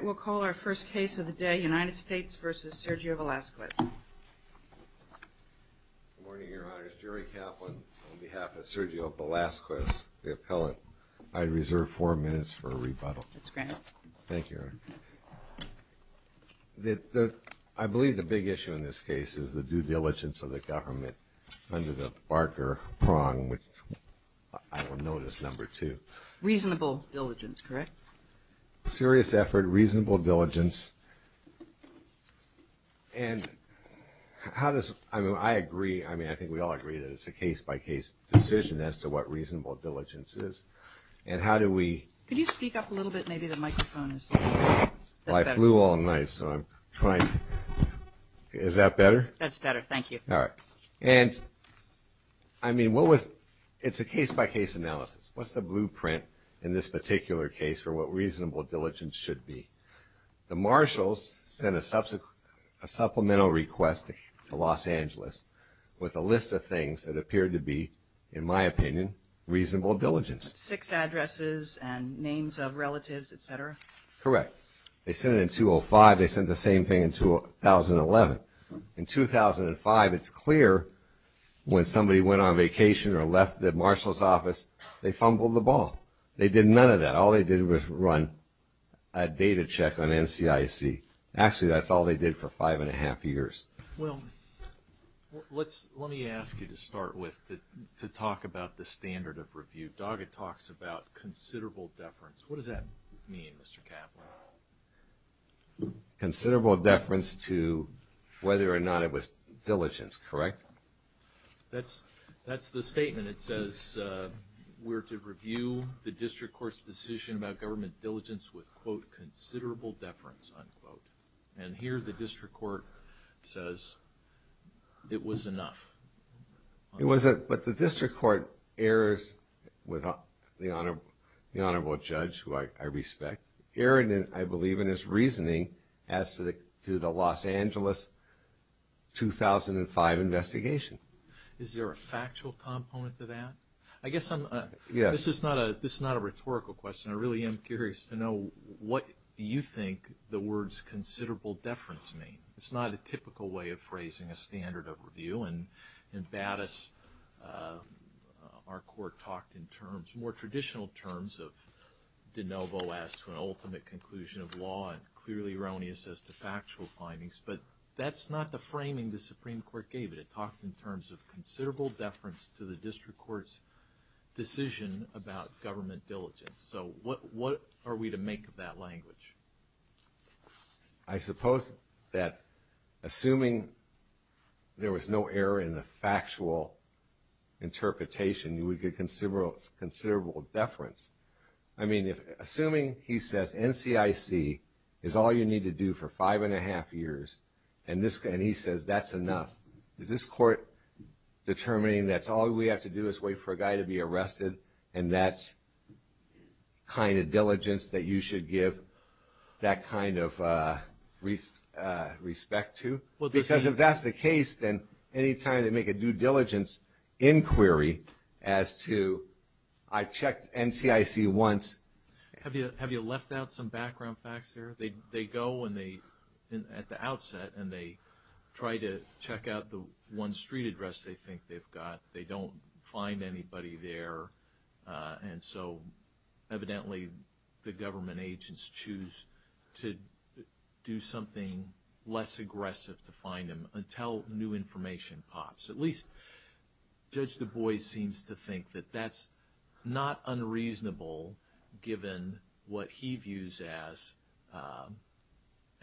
We'll call our first case of the day, United States v. Sergio Velazquez. Good morning, Your Honor. It's Jerry Kaplan on behalf of Sergio Velazquez, the appellant. I reserve four minutes for a rebuttal. That's granted. Thank you, Your Honor. I believe the big issue in this case is the due diligence of the government under the Barker prong, which I will note is number two. Reasonable diligence, correct? Serious effort, reasonable diligence, and how does – I mean, I agree. I mean, I think we all agree that it's a case-by-case decision as to what reasonable diligence is. And how do we – Could you speak up a little bit? Maybe the microphone is – Well, I flew all night, so I'm trying – is that better? That's better. Thank you. All right. And, I mean, what was – it's a case-by-case analysis. What's the blueprint in this particular case for what reasonable diligence should be? The marshals sent a supplemental request to Los Angeles with a list of things that appeared to be, in my opinion, reasonable diligence. Six addresses and names of relatives, et cetera? Correct. They sent it in 2005. They sent the same thing in 2011. In 2005, it's clear when somebody went on vacation or left the marshal's office, they fumbled the ball. They did none of that. All they did was run a data check on NCIC. Actually, that's all they did for five and a half years. Well, let's – let me ask you to start with, to talk about the standard of review. Doggett talks about considerable deference. What does that mean, Mr. Kaplan? Considerable deference to whether or not it was diligence, correct? That's the statement. It says we're to review the district court's decision about government diligence with, quote, considerable deference, unquote. And here the district court says it was enough. It was – but the district court errs with the honorable judge, who I respect, erring, I believe, in his reasoning as to the Los Angeles 2005 investigation. Is there a factual component to that? I guess I'm – this is not a rhetorical question. I really am curious to know what you think the words considerable deference mean. It's not a typical way of phrasing a standard of review, and in Battis our court talked in terms, more traditional terms, of de novo as to an ultimate conclusion of law and clearly erroneous as to factual findings. But that's not the framing the Supreme Court gave it. It talked in terms of considerable deference to the district court's decision about government diligence. So what are we to make of that language? I suppose that assuming there was no error in the factual interpretation, you would get considerable deference. I mean, assuming he says NCIC is all you need to do for five and a half years, and this – and he says that's enough, is this court determining that all we have to do is wait for a guy to be arrested and that's kind of diligence that you should give that kind of respect to? Because if that's the case, then any time they make a due diligence inquiry as to, I checked NCIC once. Have you left out some background facts there? They go and they – at the outset, and they try to check out the one street address they think they've got. They don't find anybody there. And so evidently the government agents choose to do something less aggressive to find him until new information pops. At least Judge Du Bois seems to think that that's not unreasonable given what he views as –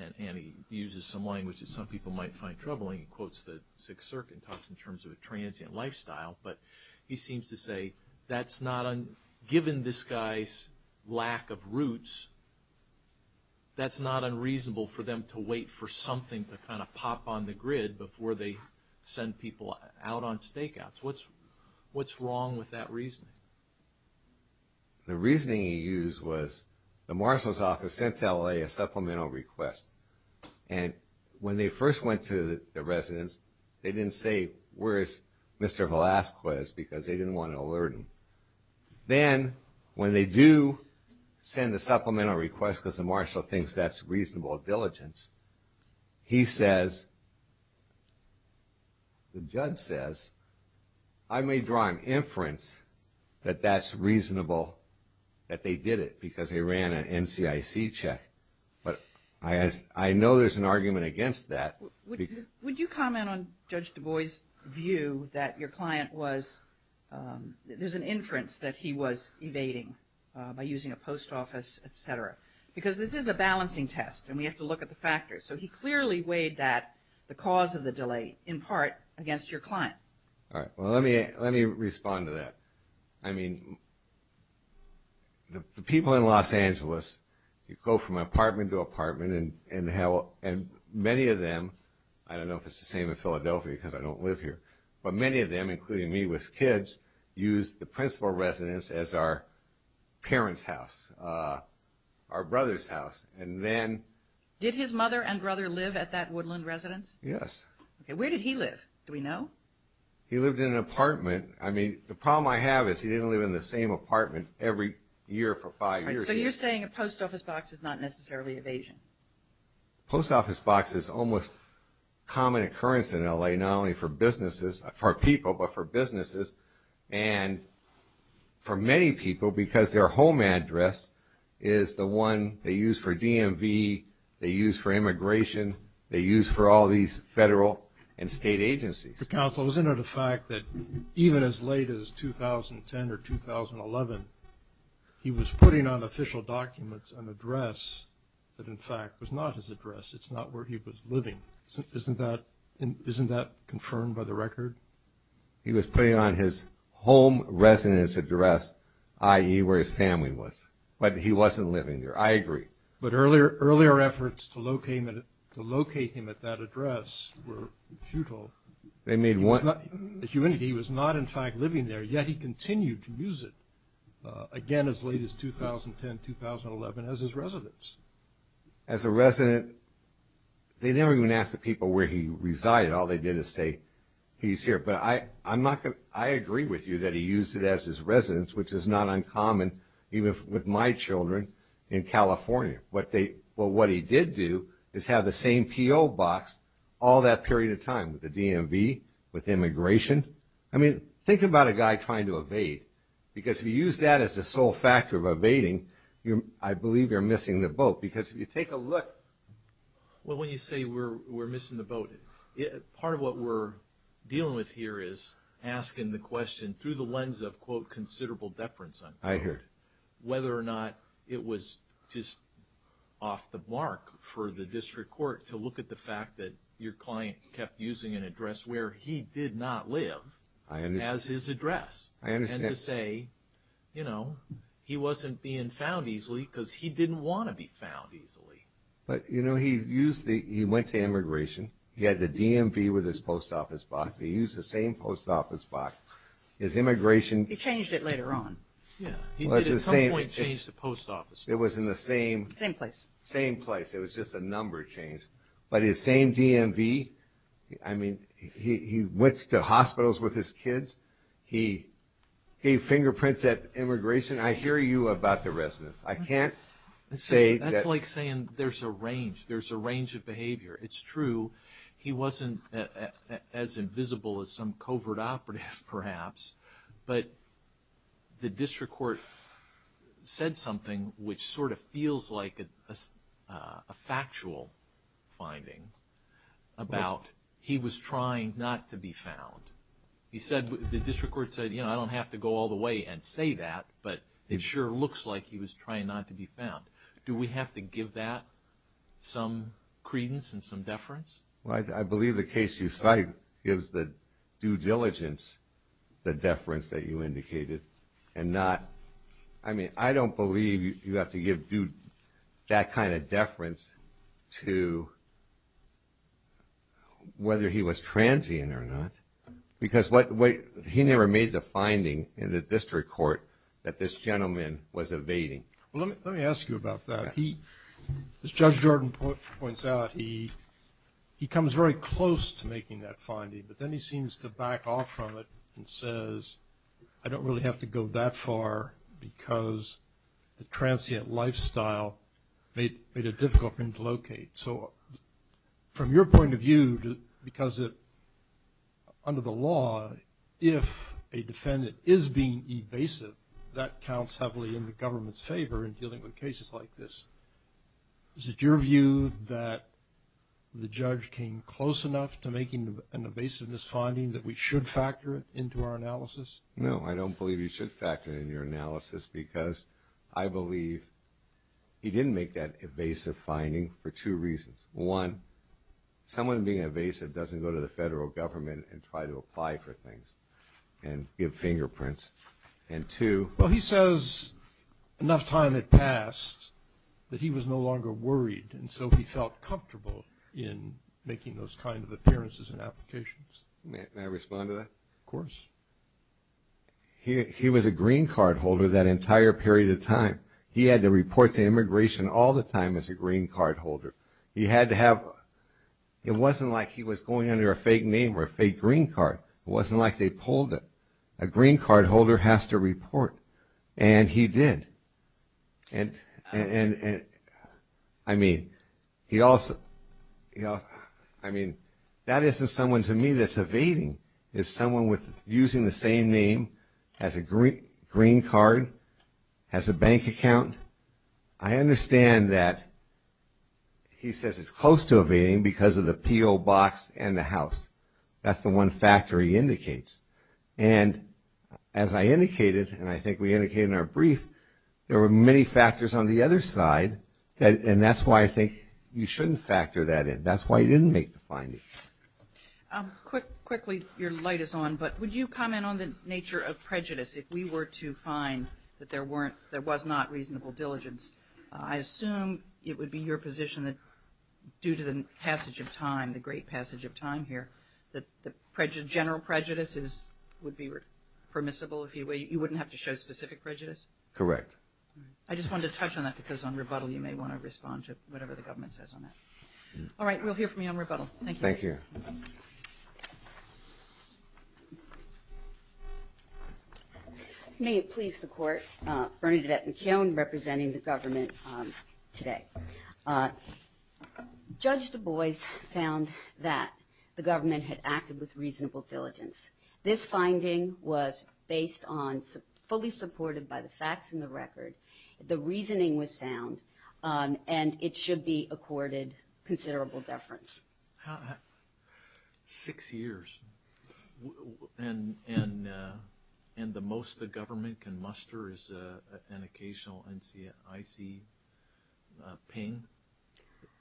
and he uses some language that some people might find troubling. He quotes the Sixth Circuit and talks in terms of a transient lifestyle, but he seems to say that's not – given this guy's lack of roots, that's not unreasonable for them to wait for something to kind of pop on the grid before they send people out on stakeouts. What's wrong with that reasoning? The reasoning he used was the marshal's office sent to LA a supplemental request. And when they first went to the residence, they didn't say where is Mr. Velazquez because they didn't want to alert him. Then when they do send the supplemental request because the marshal thinks that's reasonable diligence, he says – the judge says, I may draw an inference that that's reasonable that they did it because they ran an NCIC check. But I know there's an argument against that. Would you comment on Judge Du Bois' view that your client was – there's an inference that he was evading by using a post office, et cetera, because this is a balancing test and we have to look at the factors. So he clearly weighed that, the cause of the delay, in part against your client. All right. Well, let me respond to that. I mean, the people in Los Angeles, you go from apartment to apartment and many of them – I don't know if it's the same in Philadelphia because I don't live here, but many of them, including me with kids, use the principal residence as our parents' house, our brother's house. And then – Did his mother and brother live at that Woodland residence? Yes. Okay. Where did he live? Do we know? He lived in an apartment. I mean, the problem I have is he didn't live in the same apartment every year for five years. So you're saying a post office box is not necessarily evasion? Post office box is almost a common occurrence in L.A., not only for businesses – for people, but for businesses and for many people because their home address is the one they use for DMV, they use for immigration, they use for all these federal and state agencies. Mr. Counsel, isn't it a fact that even as late as 2010 or 2011, he was putting on official documents an address that, in fact, was not his address? It's not where he was living. Isn't that confirmed by the record? He was putting on his home residence address, i.e., where his family was. But he wasn't living there. I agree. But earlier efforts to locate him at that address were futile. He was not, in fact, living there, yet he continued to use it, again, as late as 2010, 2011, as his residence. As a resident, they never even asked the people where he resided. All they did is say he's here. But I agree with you that he used it as his residence, which is not uncommon even with my children in California. But what he did do is have the same P.O. box all that period of time with the DMV, with immigration. I mean, think about a guy trying to evade, because if you use that as the sole factor of evading, I believe you're missing the boat. Because if you take a look. Well, when you say we're missing the boat, part of what we're dealing with here is asking the question through the lens of, quote, considerable deference. I heard. Whether or not it was just off the mark for the district court to look at the fact that your client kept using an address where he did not live as his address. I understand. And to say, you know, he wasn't being found easily, because he didn't want to be found easily. But, you know, he went to immigration. He had the DMV with his post office box. He used the same post office box. His immigration. He changed it later on. Yeah. He did at some point change the post office box. It was in the same. Same place. Same place. It was just a number change. But his same DMV. I mean, he went to hospitals with his kids. He gave fingerprints at immigration. I hear you about the residence. I can't say. That's like saying there's a range. There's a range of behavior. It's true. He wasn't as invisible as some covert operative, perhaps. But the district court said something which sort of feels like a factual finding about he was trying not to be found. He said, the district court said, you know, I don't have to go all the way and say that, but it sure looks like he was trying not to be found. Do we have to give that some credence and some deference? Well, I believe the case you cite gives the due diligence the deference that you indicated and not, I mean, I don't believe you have to give that kind of deference to whether he was transient or not because he never made the finding in the district court that this gentleman was evading. Well, let me ask you about that. As Judge Jordan points out, he comes very close to making that finding, but then he seems to back off from it and says, I don't really have to go that far because the transient lifestyle made it difficult for him to locate. So from your point of view, because under the law, if a defendant is being evasive, that counts heavily in the government's favor in dealing with cases like this. Is it your view that the judge came close enough to making an evasiveness finding that we should factor it into our analysis? No, I don't believe you should factor it in your analysis because I believe he didn't make that evasive finding for two reasons. One, someone being evasive doesn't go to the federal government and try to apply for things and give fingerprints. And two – Well, he says enough time had passed that he was no longer worried, and so he felt comfortable in making those kind of appearances and applications. May I respond to that? Of course. He was a green card holder that entire period of time. He had to report to immigration all the time as a green card holder. He had to have – It wasn't like he was going under a fake name or a fake green card. It wasn't like they pulled it. A green card holder has to report, and he did. And, I mean, he also – I mean, that isn't someone to me that's evading. It's someone using the same name, has a green card, has a bank account. I understand that he says it's close to evading because of the P.O. box and the house. That's the one factor he indicates. And as I indicated, and I think we indicated in our brief, there were many factors on the other side, and that's why I think you shouldn't factor that in. That's why he didn't make the finding. Quickly, your light is on, but would you comment on the nature of prejudice if we were to find that there was not reasonable diligence? I assume it would be your position that due to the passage of time, the great passage of time here, that general prejudice would be permissible, you wouldn't have to show specific prejudice? Correct. I just wanted to touch on that because on rebuttal you may want to respond to whatever the government says on that. Thank you. Thank you. May it please the Court, Bernadette McKeown representing the government today. Judge Du Bois found that the government had acted with reasonable diligence. This finding was based on, fully supported by the facts and the record, the reasoning was sound, and it should be accorded considerable deference. Six years. And the most the government can muster is an occasional icy ping?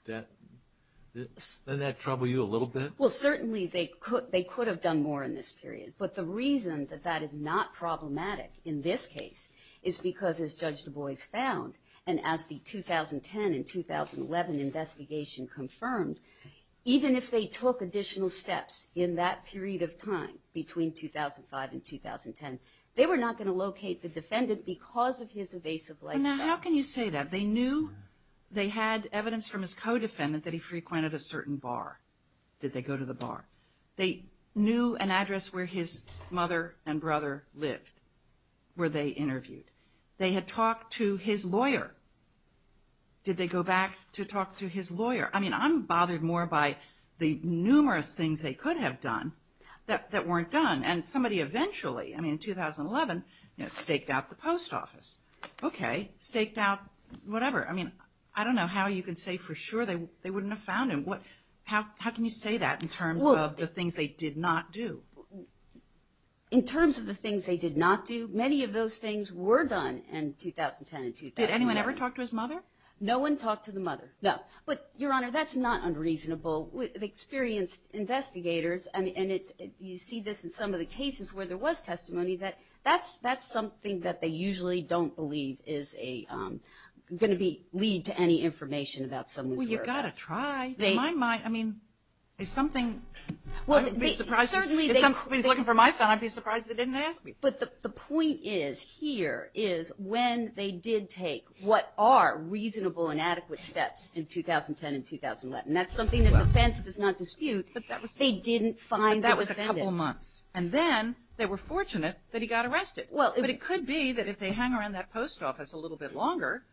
Doesn't that trouble you a little bit? Well, certainly they could have done more in this period, but the reason that that is not problematic in this case is because as Judge Du Bois found, and as the 2010 and 2011 investigation confirmed, even if they took additional steps in that period of time, between 2005 and 2010, they were not going to locate the defendant because of his evasive lifestyle. How can you say that? They knew they had evidence from his co-defendant that he frequented a certain bar. Did they go to the bar? They knew an address where his mother and brother lived, where they interviewed. They had talked to his lawyer. Did they go back to talk to his lawyer? I mean, I'm bothered more by the numerous things they could have done that weren't done, and somebody eventually, I mean, in 2011, staked out the post office. Okay, staked out whatever. I mean, I don't know how you can say for sure they wouldn't have found him. How can you say that in terms of the things they did not do? In terms of the things they did not do, many of those things were done in 2010 and 2011. Did anyone ever talk to his mother? No one talked to the mother, no. But, Your Honor, that's not unreasonable. The experienced investigators, and you see this in some of the cases where there was testimony, that's something that they usually don't believe is going to lead to any information about someone's whereabouts. Well, you've got to try. In my mind, I mean, if something, I'd be surprised. If somebody was looking for my son, I'd be surprised they didn't ask me. But the point is, here, is when they did take what are reasonable and adequate steps in 2010 and 2011, and that's something the defense does not dispute, they didn't find the defendant. But that was a couple months. And then they were fortunate that he got arrested. But it could be that if they hung around that post office a little bit longer,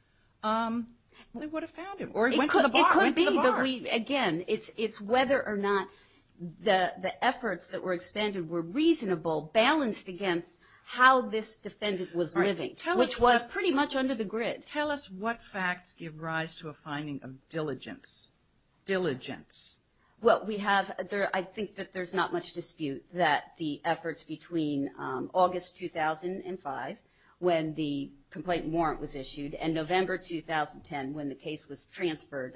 they would have found him. Or he went to the bar. It could be. But, again, it's whether or not the efforts that were expended were reasonable, balanced against how this defendant was living, which was pretty much under the grid. Tell us what facts give rise to a finding of diligence. Diligence. Well, we have, I think that there's not much dispute that the efforts between August 2005, when the complaint warrant was issued, and November 2010, when the case was transferred,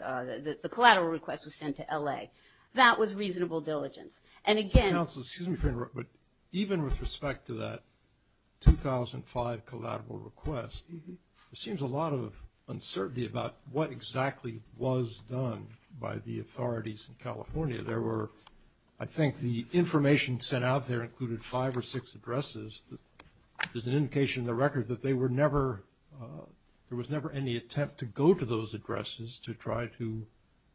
the collateral request was sent to L.A., that was reasonable diligence. And, again — Counsel, excuse me for interrupting, but even with respect to that 2005 collateral request, there seems a lot of uncertainty about what exactly was done by the authorities in California. There were, I think the information sent out there included five or six addresses. There's an indication in the record that there was never any attempt to go to those addresses to try to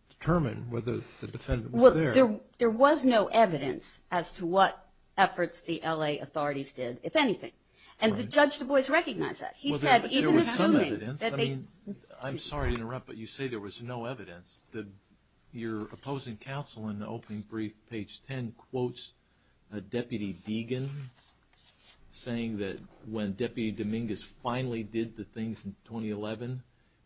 determine whether the defendant was there. There was no evidence as to what efforts the L.A. authorities did, if anything. And Judge Du Bois recognized that. He said, even assuming that they — Well, there was some evidence. I mean, I'm sorry to interrupt, but you say there was no evidence. Your opposing counsel in the opening brief, page 10, quotes Deputy Deegan, saying that when Deputy Dominguez finally did the things in 2011,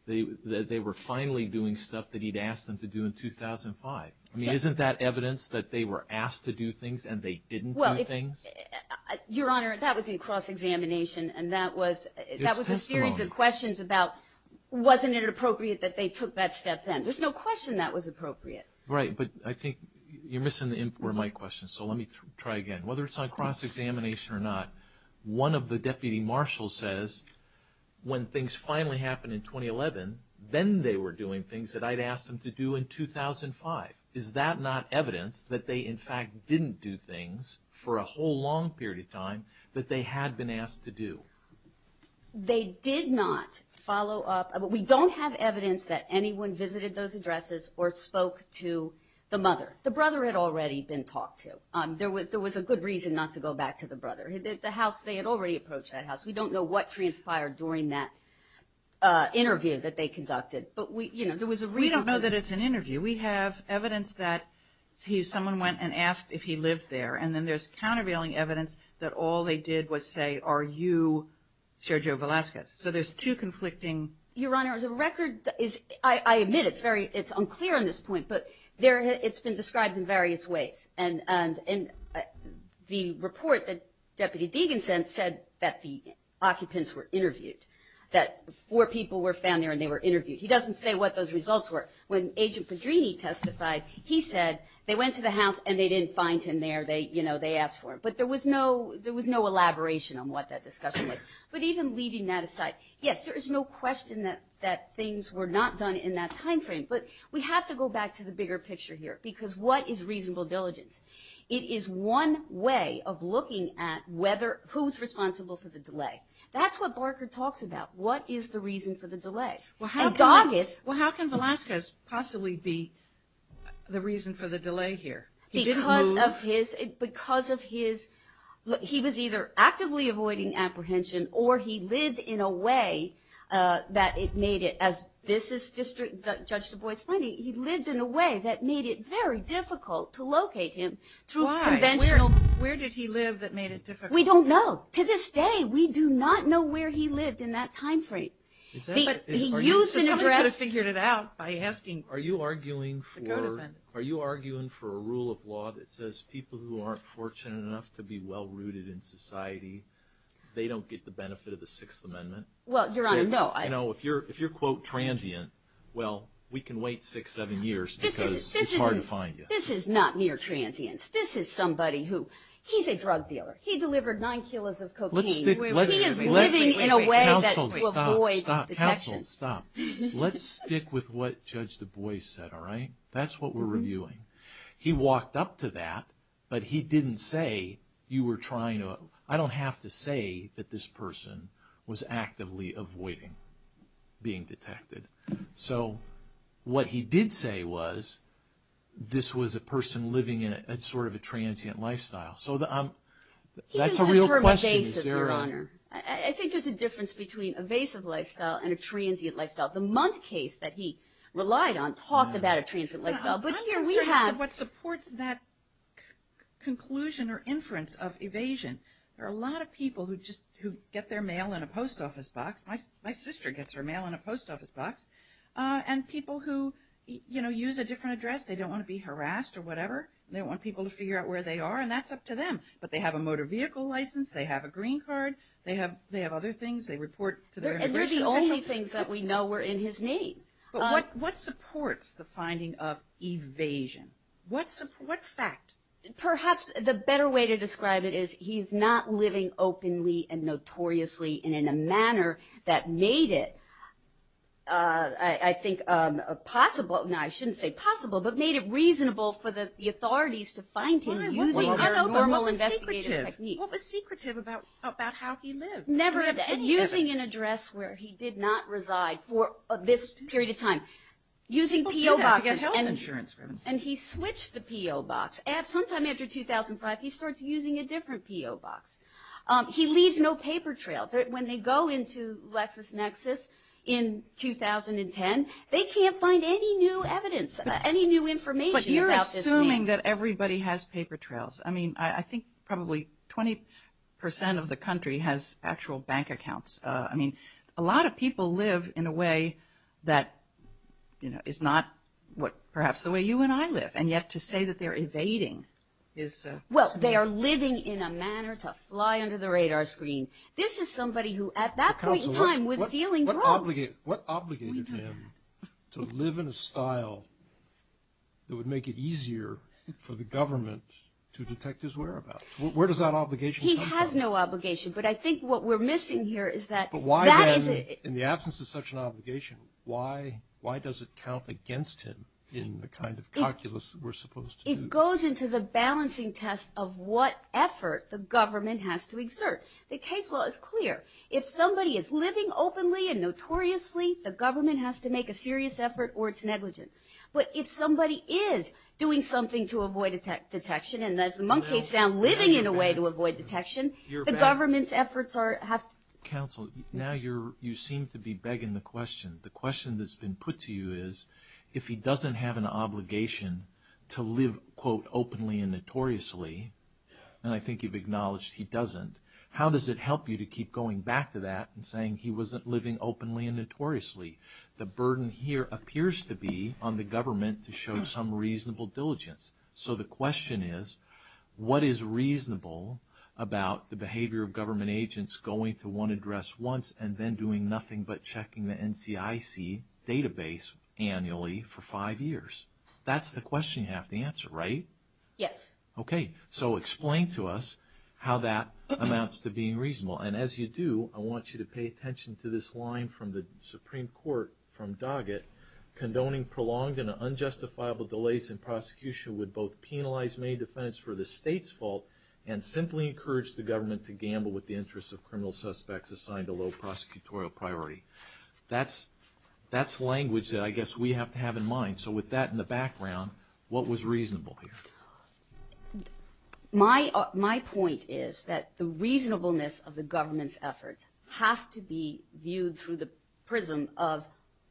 that they were finally doing stuff that he'd asked them to do in 2005. I mean, isn't that evidence that they were asked to do things and they didn't do things? Well, if — Your Honor, that was in cross-examination, and that was — It's testimony. That was a series of questions about wasn't it appropriate that they took that step then. There's no question that was appropriate. Right, but I think you're missing the import of my question, so let me try again. Whether it's on cross-examination or not, one of the deputy marshals says when things finally happened in 2011, then they were doing things that I'd asked them to do in 2005. Is that not evidence that they, in fact, didn't do things for a whole long period of time that they had been asked to do? They did not follow up. We don't have evidence that anyone visited those addresses or spoke to the mother. The brother had already been talked to. There was a good reason not to go back to the brother. The house, they had already approached that house. We don't know what transpired during that interview that they conducted. But, you know, there was a reason for that. We don't know that it's an interview. We have evidence that someone went and asked if he lived there, and then there's countervailing evidence that all they did was say, Are you Sergio Velasquez? So there's two conflicting — Your Honor, the record is — I admit it's unclear on this point, but it's been described in various ways. And the report that Deputy Degin sent said that the occupants were interviewed, that four people were found there and they were interviewed. He doesn't say what those results were. When Agent Pedrini testified, he said they went to the house and they didn't find him there. They asked for him. But there was no elaboration on what that discussion was. But even leaving that aside, yes, there is no question that things were not done in that time frame. But we have to go back to the bigger picture here, because what is reasonable diligence? It is one way of looking at who's responsible for the delay. That's what Barker talks about. What is the reason for the delay? And Doggett — Well, how can Velasquez possibly be the reason for the delay here? He didn't move — Because of his — he was either actively avoiding apprehension or he lived in a way that it made it — as this is Judge DuBois' finding, he lived in a way that made it very difficult to locate him through conventional — Why? Where did he live that made it difficult? We don't know. To this day, we do not know where he lived in that time frame. He used an address — Somebody could have figured it out by asking the codefendant. Are you arguing for a rule of law that says people who aren't fortunate enough to be well-rooted in society, they don't get the benefit of the Sixth Amendment? Well, Your Honor, no. You know, if you're, quote, transient, well, we can wait six, seven years because it's hard to find you. This is not near transience. This is somebody who — he's a drug dealer. He delivered nine kilos of cocaine. He is living in a way that — Counsel, stop. Stop. Counsel, stop. Let's stick with what Judge DuBois said, all right? That's what we're reviewing. He walked up to that, but he didn't say, you were trying to — I don't have to say that this person was actively avoiding being detected. So what he did say was this was a person living in sort of a transient lifestyle. So that's a real question. He doesn't term evasive, Your Honor. I think there's a difference between evasive lifestyle and a transient lifestyle. The Mundt case that he relied on talked about a transient lifestyle, but here we have — There are a lot of people who just — who get their mail in a post office box. My sister gets her mail in a post office box. And people who, you know, use a different address. They don't want to be harassed or whatever. They don't want people to figure out where they are, and that's up to them. But they have a motor vehicle license. They have a green card. They have other things. They report to their immigration official. And they're the only things that we know were in his need. But what supports the finding of evasion? What fact? Perhaps the better way to describe it is he's not living openly and notoriously and in a manner that made it, I think, possible. Now, I shouldn't say possible, but made it reasonable for the authorities to find him using their normal investigative techniques. What was secretive about how he lived? Never using an address where he did not reside for this period of time. Using P.O. boxes. People do that to get health insurance. And he switched the P.O. box. Sometime after 2005, he starts using a different P.O. box. He leaves no paper trail. When they go into LexisNexis in 2010, they can't find any new evidence, any new information about this man. But you're assuming that everybody has paper trails. I mean, I think probably 20% of the country has actual bank accounts. I mean, a lot of people live in a way that is not perhaps the way you and I live. And yet to say that they're evading is... Well, they are living in a manner to fly under the radar screen. This is somebody who at that point in time was dealing drugs. What obligated him to live in a style that would make it easier for the government to detect his whereabouts? Where does that obligation come from? He has no obligation. But I think what we're missing here is that... But why then, in the absence of such an obligation, why does it count against him in the kind of calculus that we're supposed to do? It goes into the balancing test of what effort the government has to exert. The case law is clear. If somebody is living openly and notoriously, the government has to make a serious effort or it's negligent. But if somebody is doing something to avoid detection, and as the monkeys sound, living in a way to avoid detection, the government's efforts have to... Counsel, now you seem to be begging the question. The question that's been put to you is, if he doesn't have an obligation to live, quote, openly and notoriously, and I think you've acknowledged he doesn't, how does it help you to keep going back to that and saying he wasn't living openly and notoriously? The burden here appears to be on the government to show some reasonable diligence. So the question is, what is reasonable about the behavior of government agents going to one address once and then doing nothing but checking the NCIC database annually for five years? That's the question you have to answer, right? Yes. Okay. So explain to us how that amounts to being reasonable. And as you do, I want you to pay attention to this line from the Supreme Court from Doggett, condoning prolonged and unjustifiable delays in prosecution would both penalize many defendants for the state's fault and simply encourage the government to gamble with the interests of criminal suspects assigned to low prosecutorial priority. That's language that I guess we have to have in mind. So with that in the background, what was reasonable here? My point is that the reasonableness of the government's efforts have to be viewed through the prism of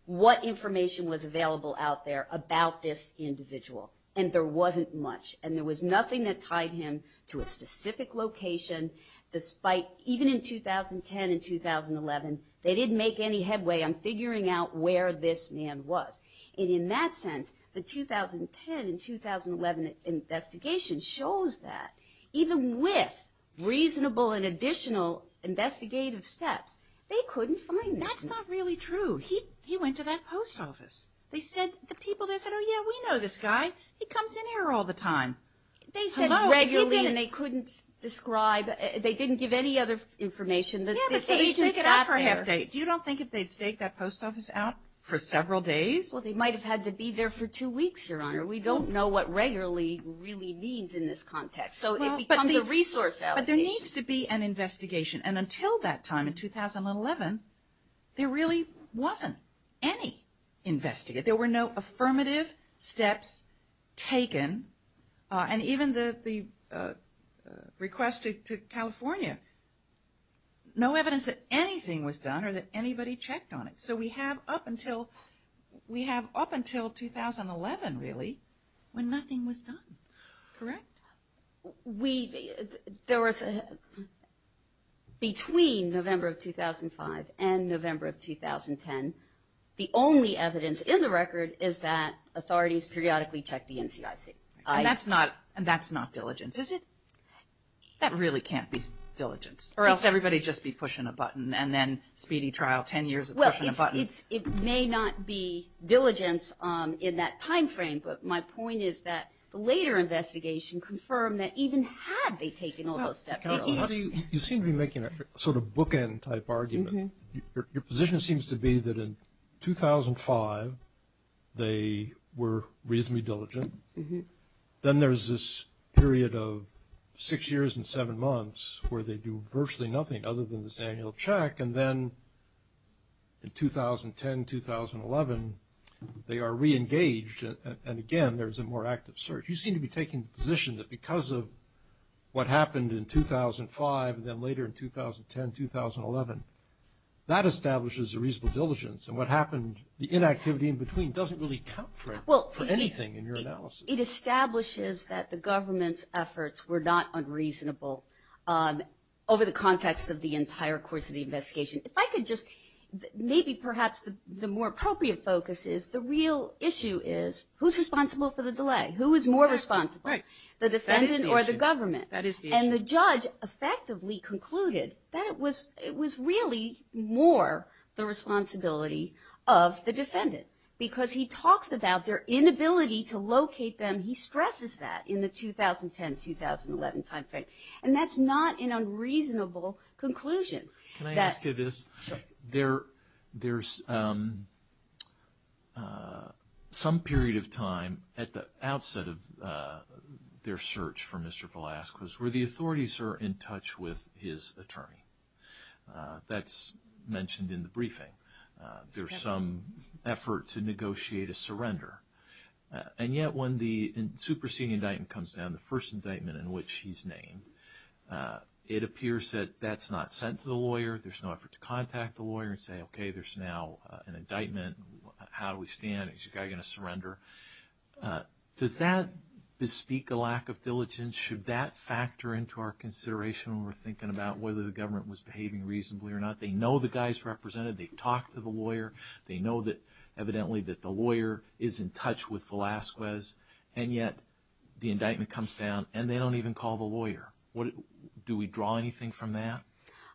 what information was available out there about this individual, and there wasn't much. And there was nothing that tied him to a specific location, despite even in 2010 and 2011, they didn't make any headway on figuring out where this man was. And in that sense, the 2010 and 2011 investigation shows that even with reasonable and additional investigative steps, they couldn't find this man. That's not really true. He went to that post office. They said, the people there said, oh, yeah, we know this guy. He comes in here all the time. They said regularly and they couldn't describe, they didn't give any other information that the agent sat there. Yeah, but so they staked it out for a half day. Do you not think if they'd staked that post office out for several days? Well, they might have had to be there for two weeks, Your Honor. We don't know what regularly really means in this context. So it becomes a resource allocation. But there needs to be an investigation. And until that time in 2011, there really wasn't any investigation. There were no affirmative steps taken. And even the request to California, no evidence that anything was done or that anybody checked on it. So we have up until 2011 really when nothing was done. Correct? We, there was, between November of 2005 and November of 2010, the only evidence in the record is that authorities periodically checked the NCIC. And that's not diligence, is it? That really can't be diligence. Or else everybody would just be pushing a button. And then speedy trial, 10 years of pushing a button. Well, it may not be diligence in that time frame. But my point is that the later investigation confirmed that even had they taken all those steps. You seem to be making a sort of bookend type argument. Your position seems to be that in 2005 they were reasonably diligent. Then there's this period of six years and seven months where they do virtually nothing other than this annual check. And then in 2010, 2011, they are reengaged. And, again, there's a more active search. You seem to be taking the position that because of what happened in 2005, and then later in 2010, 2011, that establishes a reasonable diligence. And what happened, the inactivity in between doesn't really count for anything in your analysis. It establishes that the government's efforts were not unreasonable over the context of the entire course of the investigation. If I could just maybe perhaps the more appropriate focus is the real issue is who's responsible for the delay? Who is more responsible, the defendant or the government? That is the issue. Because he talks about their inability to locate them. He stresses that in the 2010-2011 time frame. And that's not an unreasonable conclusion. Can I ask you this? Sure. There's some period of time at the outset of their search for Mr. Velazquez where the authorities are in touch with his attorney. That's mentioned in the briefing. There's some effort to negotiate a surrender. And yet when the superseding indictment comes down, the first indictment in which he's named, it appears that that's not sent to the lawyer. There's no effort to contact the lawyer and say, okay, there's now an indictment. How do we stand? Is the guy going to surrender? Does that bespeak a lack of diligence? Should that factor into our consideration when we're thinking about whether the government was behaving reasonably or not? They know the guy's represented. They've talked to the lawyer. They know evidently that the lawyer is in touch with Velazquez. And yet the indictment comes down, and they don't even call the lawyer. Do we draw anything from that?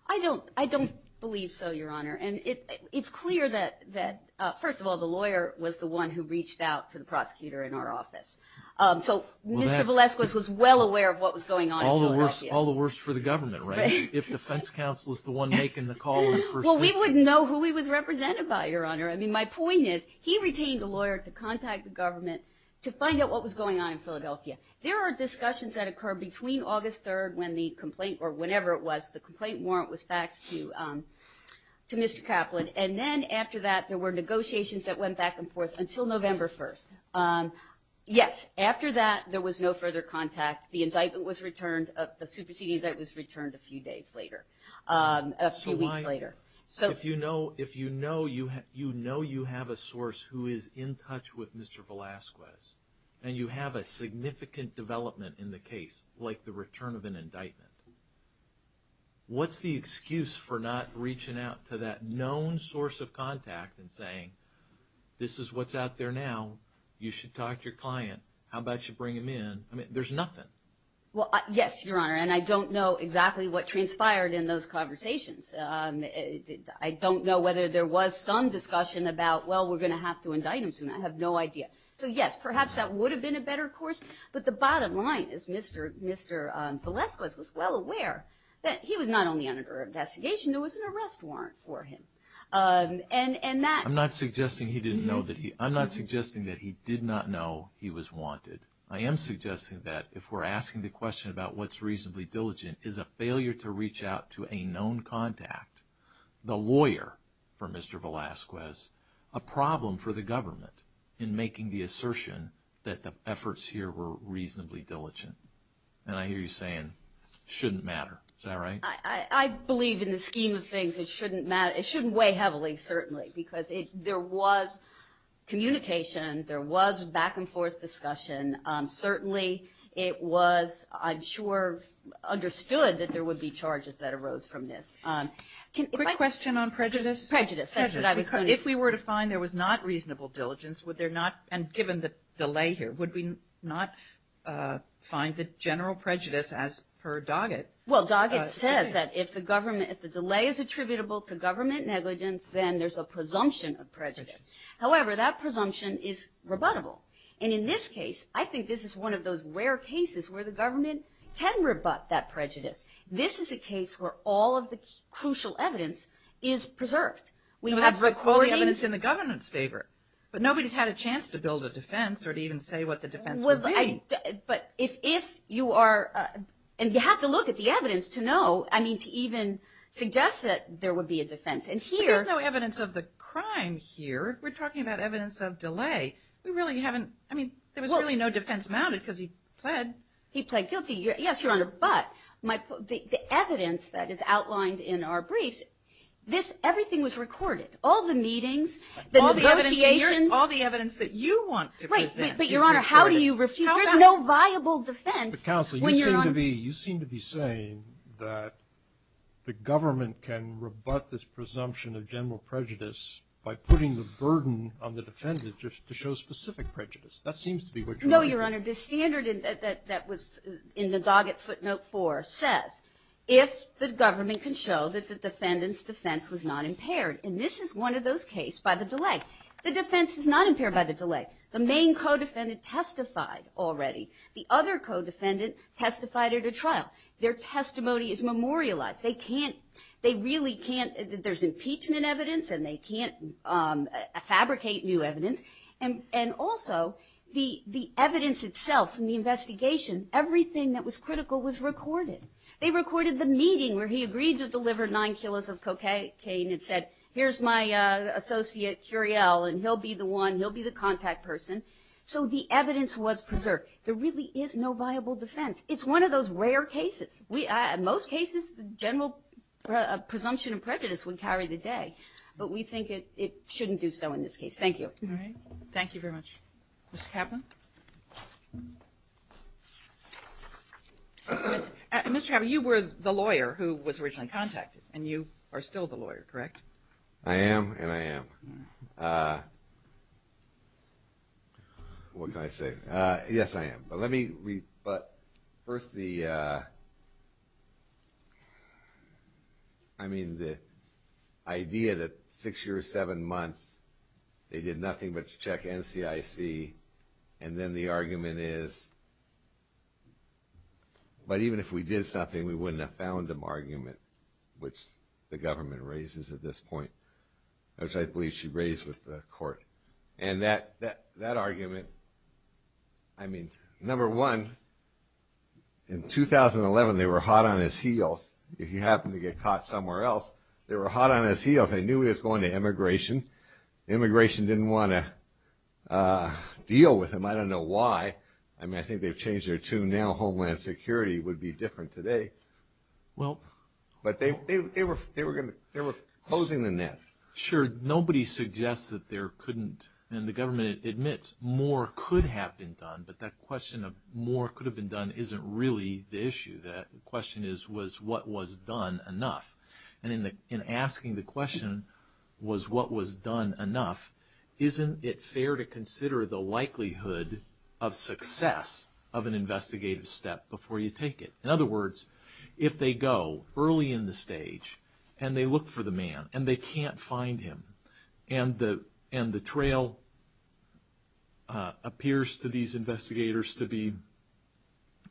I don't believe so, Your Honor. And it's clear that, first of all, the lawyer was the one who reached out to the prosecutor in our office. So Mr. Velazquez was well aware of what was going on. All the worse for the government, right? If defense counsel is the one making the call in the first place. Well, we wouldn't know who he was represented by, Your Honor. I mean, my point is he retained a lawyer to contact the government to find out what was going on in Philadelphia. There are discussions that occur between August 3rd when the complaint or whenever it was, the complaint warrant was faxed to Mr. Kaplan. And then after that there were negotiations that went back and forth until November 1st. Yes, after that there was no further contact. The indictment was returned, the superseding indictment was returned a few days later, a few weeks later. If you know you have a source who is in touch with Mr. Velazquez and you have a significant development in the case, like the return of an indictment, what's the excuse for not reaching out to that known source of contact and saying, this is what's out there now. You should talk to your client. How about you bring him in? I mean, there's nothing. Yes, Your Honor, and I don't know exactly what transpired in those conversations. I don't know whether there was some discussion about, well, we're going to have to indict him soon. I have no idea. So, yes, perhaps that would have been a better course. But the bottom line is Mr. Velazquez was well aware that he was not only under investigation, there was an arrest warrant for him. I'm not suggesting that he did not know he was wanted. I am suggesting that if we're asking the question about what's reasonably diligent is a failure to reach out to a known contact, the lawyer for Mr. Velazquez, a problem for the government in making the assertion that the efforts here were reasonably diligent. And I hear you saying it shouldn't matter. Is that right? I believe in the scheme of things it shouldn't matter. It shouldn't weigh heavily, certainly, because there was communication. There was back and forth discussion. Certainly it was, I'm sure, understood that there would be charges that arose from this. Quick question on prejudice. Prejudice, that's what I was going to say. If we were to find there was not reasonable diligence, would there not, and given the delay here, would we not find that general prejudice as per Doggett? Well, Doggett says that if the delay is attributable to government negligence, then there's a presumption of prejudice. However, that presumption is rebuttable. And in this case, I think this is one of those rare cases where the government can rebut that prejudice. This is a case where all of the crucial evidence is preserved. That's the evidence in the government's favor. But nobody's had a chance to build a defense or to even say what the defense would be. But if you are, and you have to look at the evidence to know, I mean, to even suggest that there would be a defense. But there's no evidence of the crime here. We're talking about evidence of delay. We really haven't, I mean, there was really no defense mounted because he pled. He pled guilty. Yes, Your Honor, but the evidence that is outlined in our briefs, everything was recorded. All the meetings, the negotiations. All the evidence that you want to present is recorded. But, Your Honor, how do you refuse? There's no viable defense. But, Counsel, you seem to be saying that the government can rebut this presumption of general prejudice by putting the burden on the defendant just to show specific prejudice. That seems to be what you're arguing. No, Your Honor. The standard that was in the dogged footnote 4 says if the government can show that the defendant's defense was not impaired. And this is one of those cases by the delay. The defense is not impaired by the delay. The main co-defendant testified already. The other co-defendant testified at a trial. Their testimony is memorialized. They can't, they really can't. There's impeachment evidence and they can't fabricate new evidence. And also, the evidence itself in the investigation, everything that was critical was recorded. They recorded the meeting where he agreed to deliver nine kilos of cocaine and said, here's my associate Curiel and he'll be the one, he'll be the contact person. So the evidence was preserved. There really is no viable defense. It's one of those rare cases. In most cases, the general presumption of prejudice would carry the day. But we think it shouldn't do so in this case. All right. Thank you very much. Mr. Kavanaugh? Mr. Kavanaugh, you were the lawyer who was originally contacted, and you are still the lawyer, correct? I am, and I am. What can I say? Yes, I am. But let me, but first the, I mean, the idea that six years, seven months, they did nothing but check NCIC, and then the argument is, but even if we did something, we wouldn't have found an argument, which the government raises at this point, which I believe she raised with the court. And that argument, I mean, number one, in 2011, they were hot on his heels. If he happened to get caught somewhere else, they were hot on his heels. They knew he was going to immigration. Immigration didn't want to deal with him. I don't know why. I mean, I think they've changed their tune now. Homeland Security would be different today. Well. But they were closing the net. Sure. Nobody suggests that there couldn't, and the government admits, more could have been done, but that question of more could have been done isn't really the issue. The question is, was what was done enough? And in asking the question, was what was done enough, isn't it fair to consider the likelihood of success of an investigative step before you take it? In other words, if they go early in the stage and they look for the man and they can't find him, and the trail appears to these investigators to be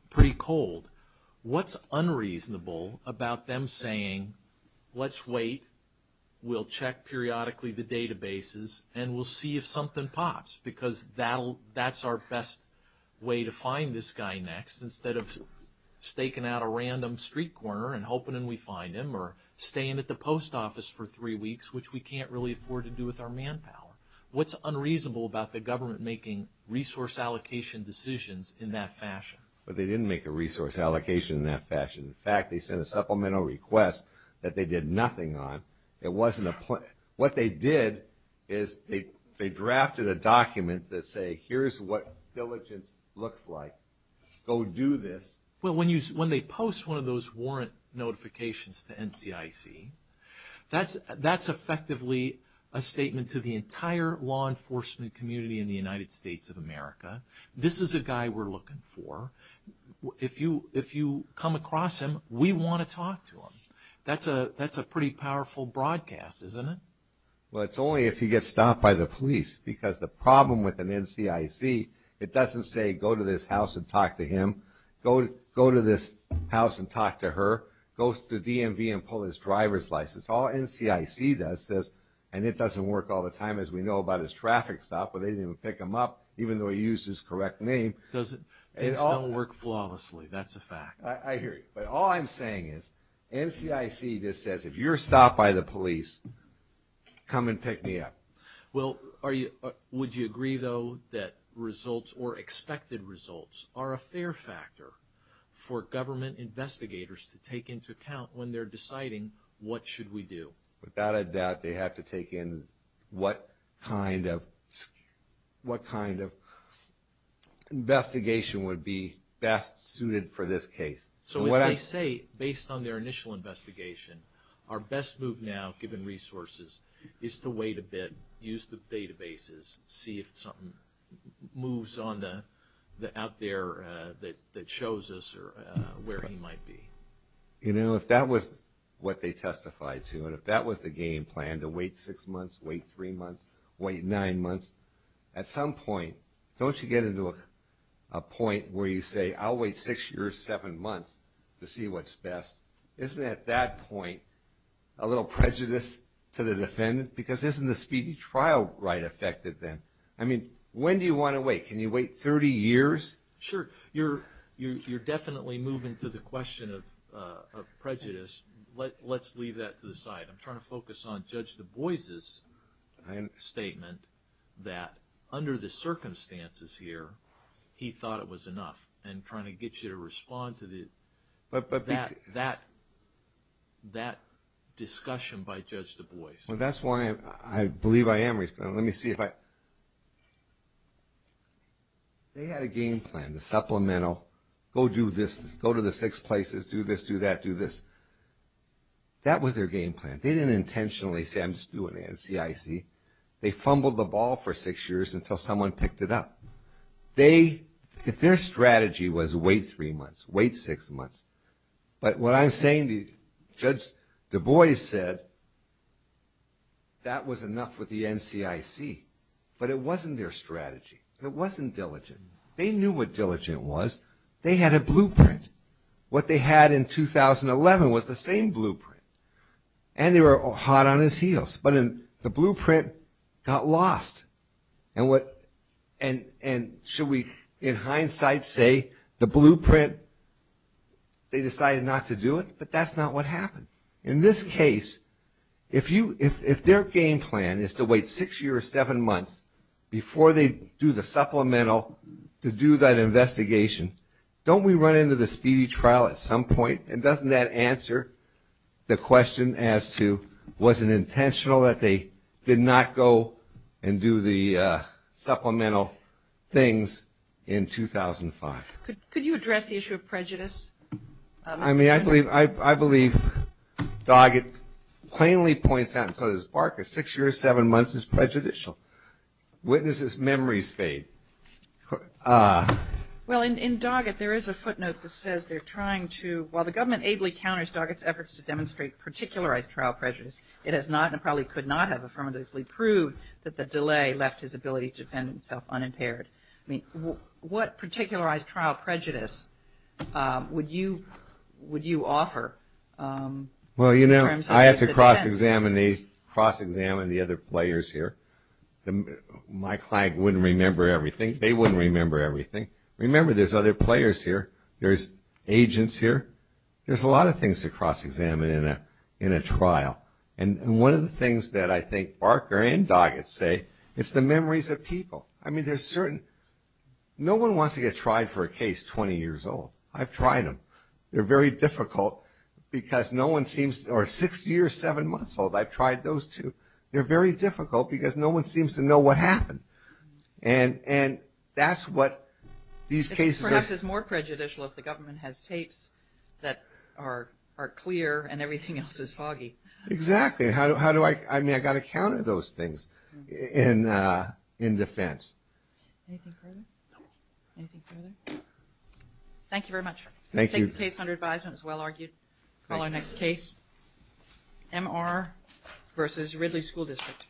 pretty cold, what's unreasonable about them saying, let's wait, we'll check periodically the databases, and we'll see if something pops, because that's our best way to find this guy next, instead of staking out a random street corner and hoping we find him, or staying at the post office for three weeks, which we can't really afford to do with our manpower. What's unreasonable about the government making resource allocation decisions in that fashion? They didn't make a resource allocation in that fashion. In fact, they sent a supplemental request that they did nothing on. It wasn't a plan. What they did is they drafted a document that said, here's what diligence looks like. Go do this. Well, when they post one of those warrant notifications to NCIC, that's effectively a statement to the entire law enforcement community in the United States of America. This is a guy we're looking for. If you come across him, we want to talk to him. That's a pretty powerful broadcast, isn't it? Well, it's only if he gets stopped by the police, because the problem with an NCIC, it doesn't say go to this house and talk to him, go to this house and talk to her, go to the DMV and pull his driver's license. All NCIC does is, and it doesn't work all the time, as we know about his traffic stop where they didn't even pick him up, even though he used his correct name. Things don't work flawlessly. That's a fact. I hear you. But all I'm saying is NCIC just says, if you're stopped by the police, come and pick me up. Well, would you agree, though, that results or expected results are a fair factor for government investigators to take into account when they're deciding what should we do? Without a doubt, they have to take in what kind of investigation would be best suited for this case. So if they say, based on their initial investigation, our best move now, given resources, is to wait a bit, use the databases, see if something moves out there that shows us where he might be. If that was what they testified to, and if that was the game plan, to wait six months, wait three months, wait nine months, at some point, don't you get into a point where you say, I'll wait six years, seven months, to see what's best? Isn't, at that point, a little prejudice to the defendant? Because isn't the speedy trial right affected then? I mean, when do you want to wait? Can you wait 30 years? Sure. You're definitely moving to the question of prejudice. Let's leave that to the side. I'm trying to focus on Judge Du Bois' statement that, under the circumstances here, he thought it was enough. And trying to get you to respond to that discussion by Judge Du Bois. Well, that's why I believe I am responding. Let me see if I... They had a game plan, the supplemental, go do this, go to the six places, do this, do that, do this. That was their game plan. They didn't intentionally say, I'm just doing it in CIC. They fumbled the ball for six years until someone picked it up. Their strategy was wait three months, wait six months. But what I'm saying, Judge Du Bois said, that was enough with the NCIC. But it wasn't their strategy. It wasn't diligent. They knew what diligent was. They had a blueprint. What they had in 2011 was the same blueprint. And they were hot on his heels. But the blueprint got lost. And should we, in hindsight, say the blueprint, they decided not to do it? But that's not what happened. In this case, if their game plan is to wait six years or seven months before they do the supplemental to do that investigation, don't we run into the speedy trial at some point? And doesn't that answer the question as to, was it intentional that they did not go and do the supplemental things in 2005? Could you address the issue of prejudice? I mean, I believe Doggett plainly points out, and so does Barker, six years, seven months is prejudicial. Witnesses' memories fade. Well, in Doggett, there is a footnote that says they're trying to, while the government ably counters Doggett's efforts to demonstrate particularized trial prejudice, it has not and probably could not have affirmatively proved that the delay left his ability to defend himself unimpaired. I mean, what particularized trial prejudice would you offer? Well, you know, I have to cross-examine the other players here. My client wouldn't remember everything. They wouldn't remember everything. Remember, there's other players here. There's agents here. There's a lot of things to cross-examine in a trial. And one of the things that I think Barker and Doggett say, it's the memories of people. I mean, there's certain, no one wants to get tried for a case 20 years old. I've tried them. They're very difficult because no one seems, or six years, seven months old, I've tried those two. They're very difficult because no one seems to know what happened. And that's what these cases are. It's more prejudicial if the government has tapes that are clear and everything else is foggy. Exactly. How do I, I mean, I've got to counter those things in defense. Anything further? No. Anything further? No. Thank you very much. Thank you. I think the case under advisement is well argued. Call our next case. MR versus Ridley School District. Thank you.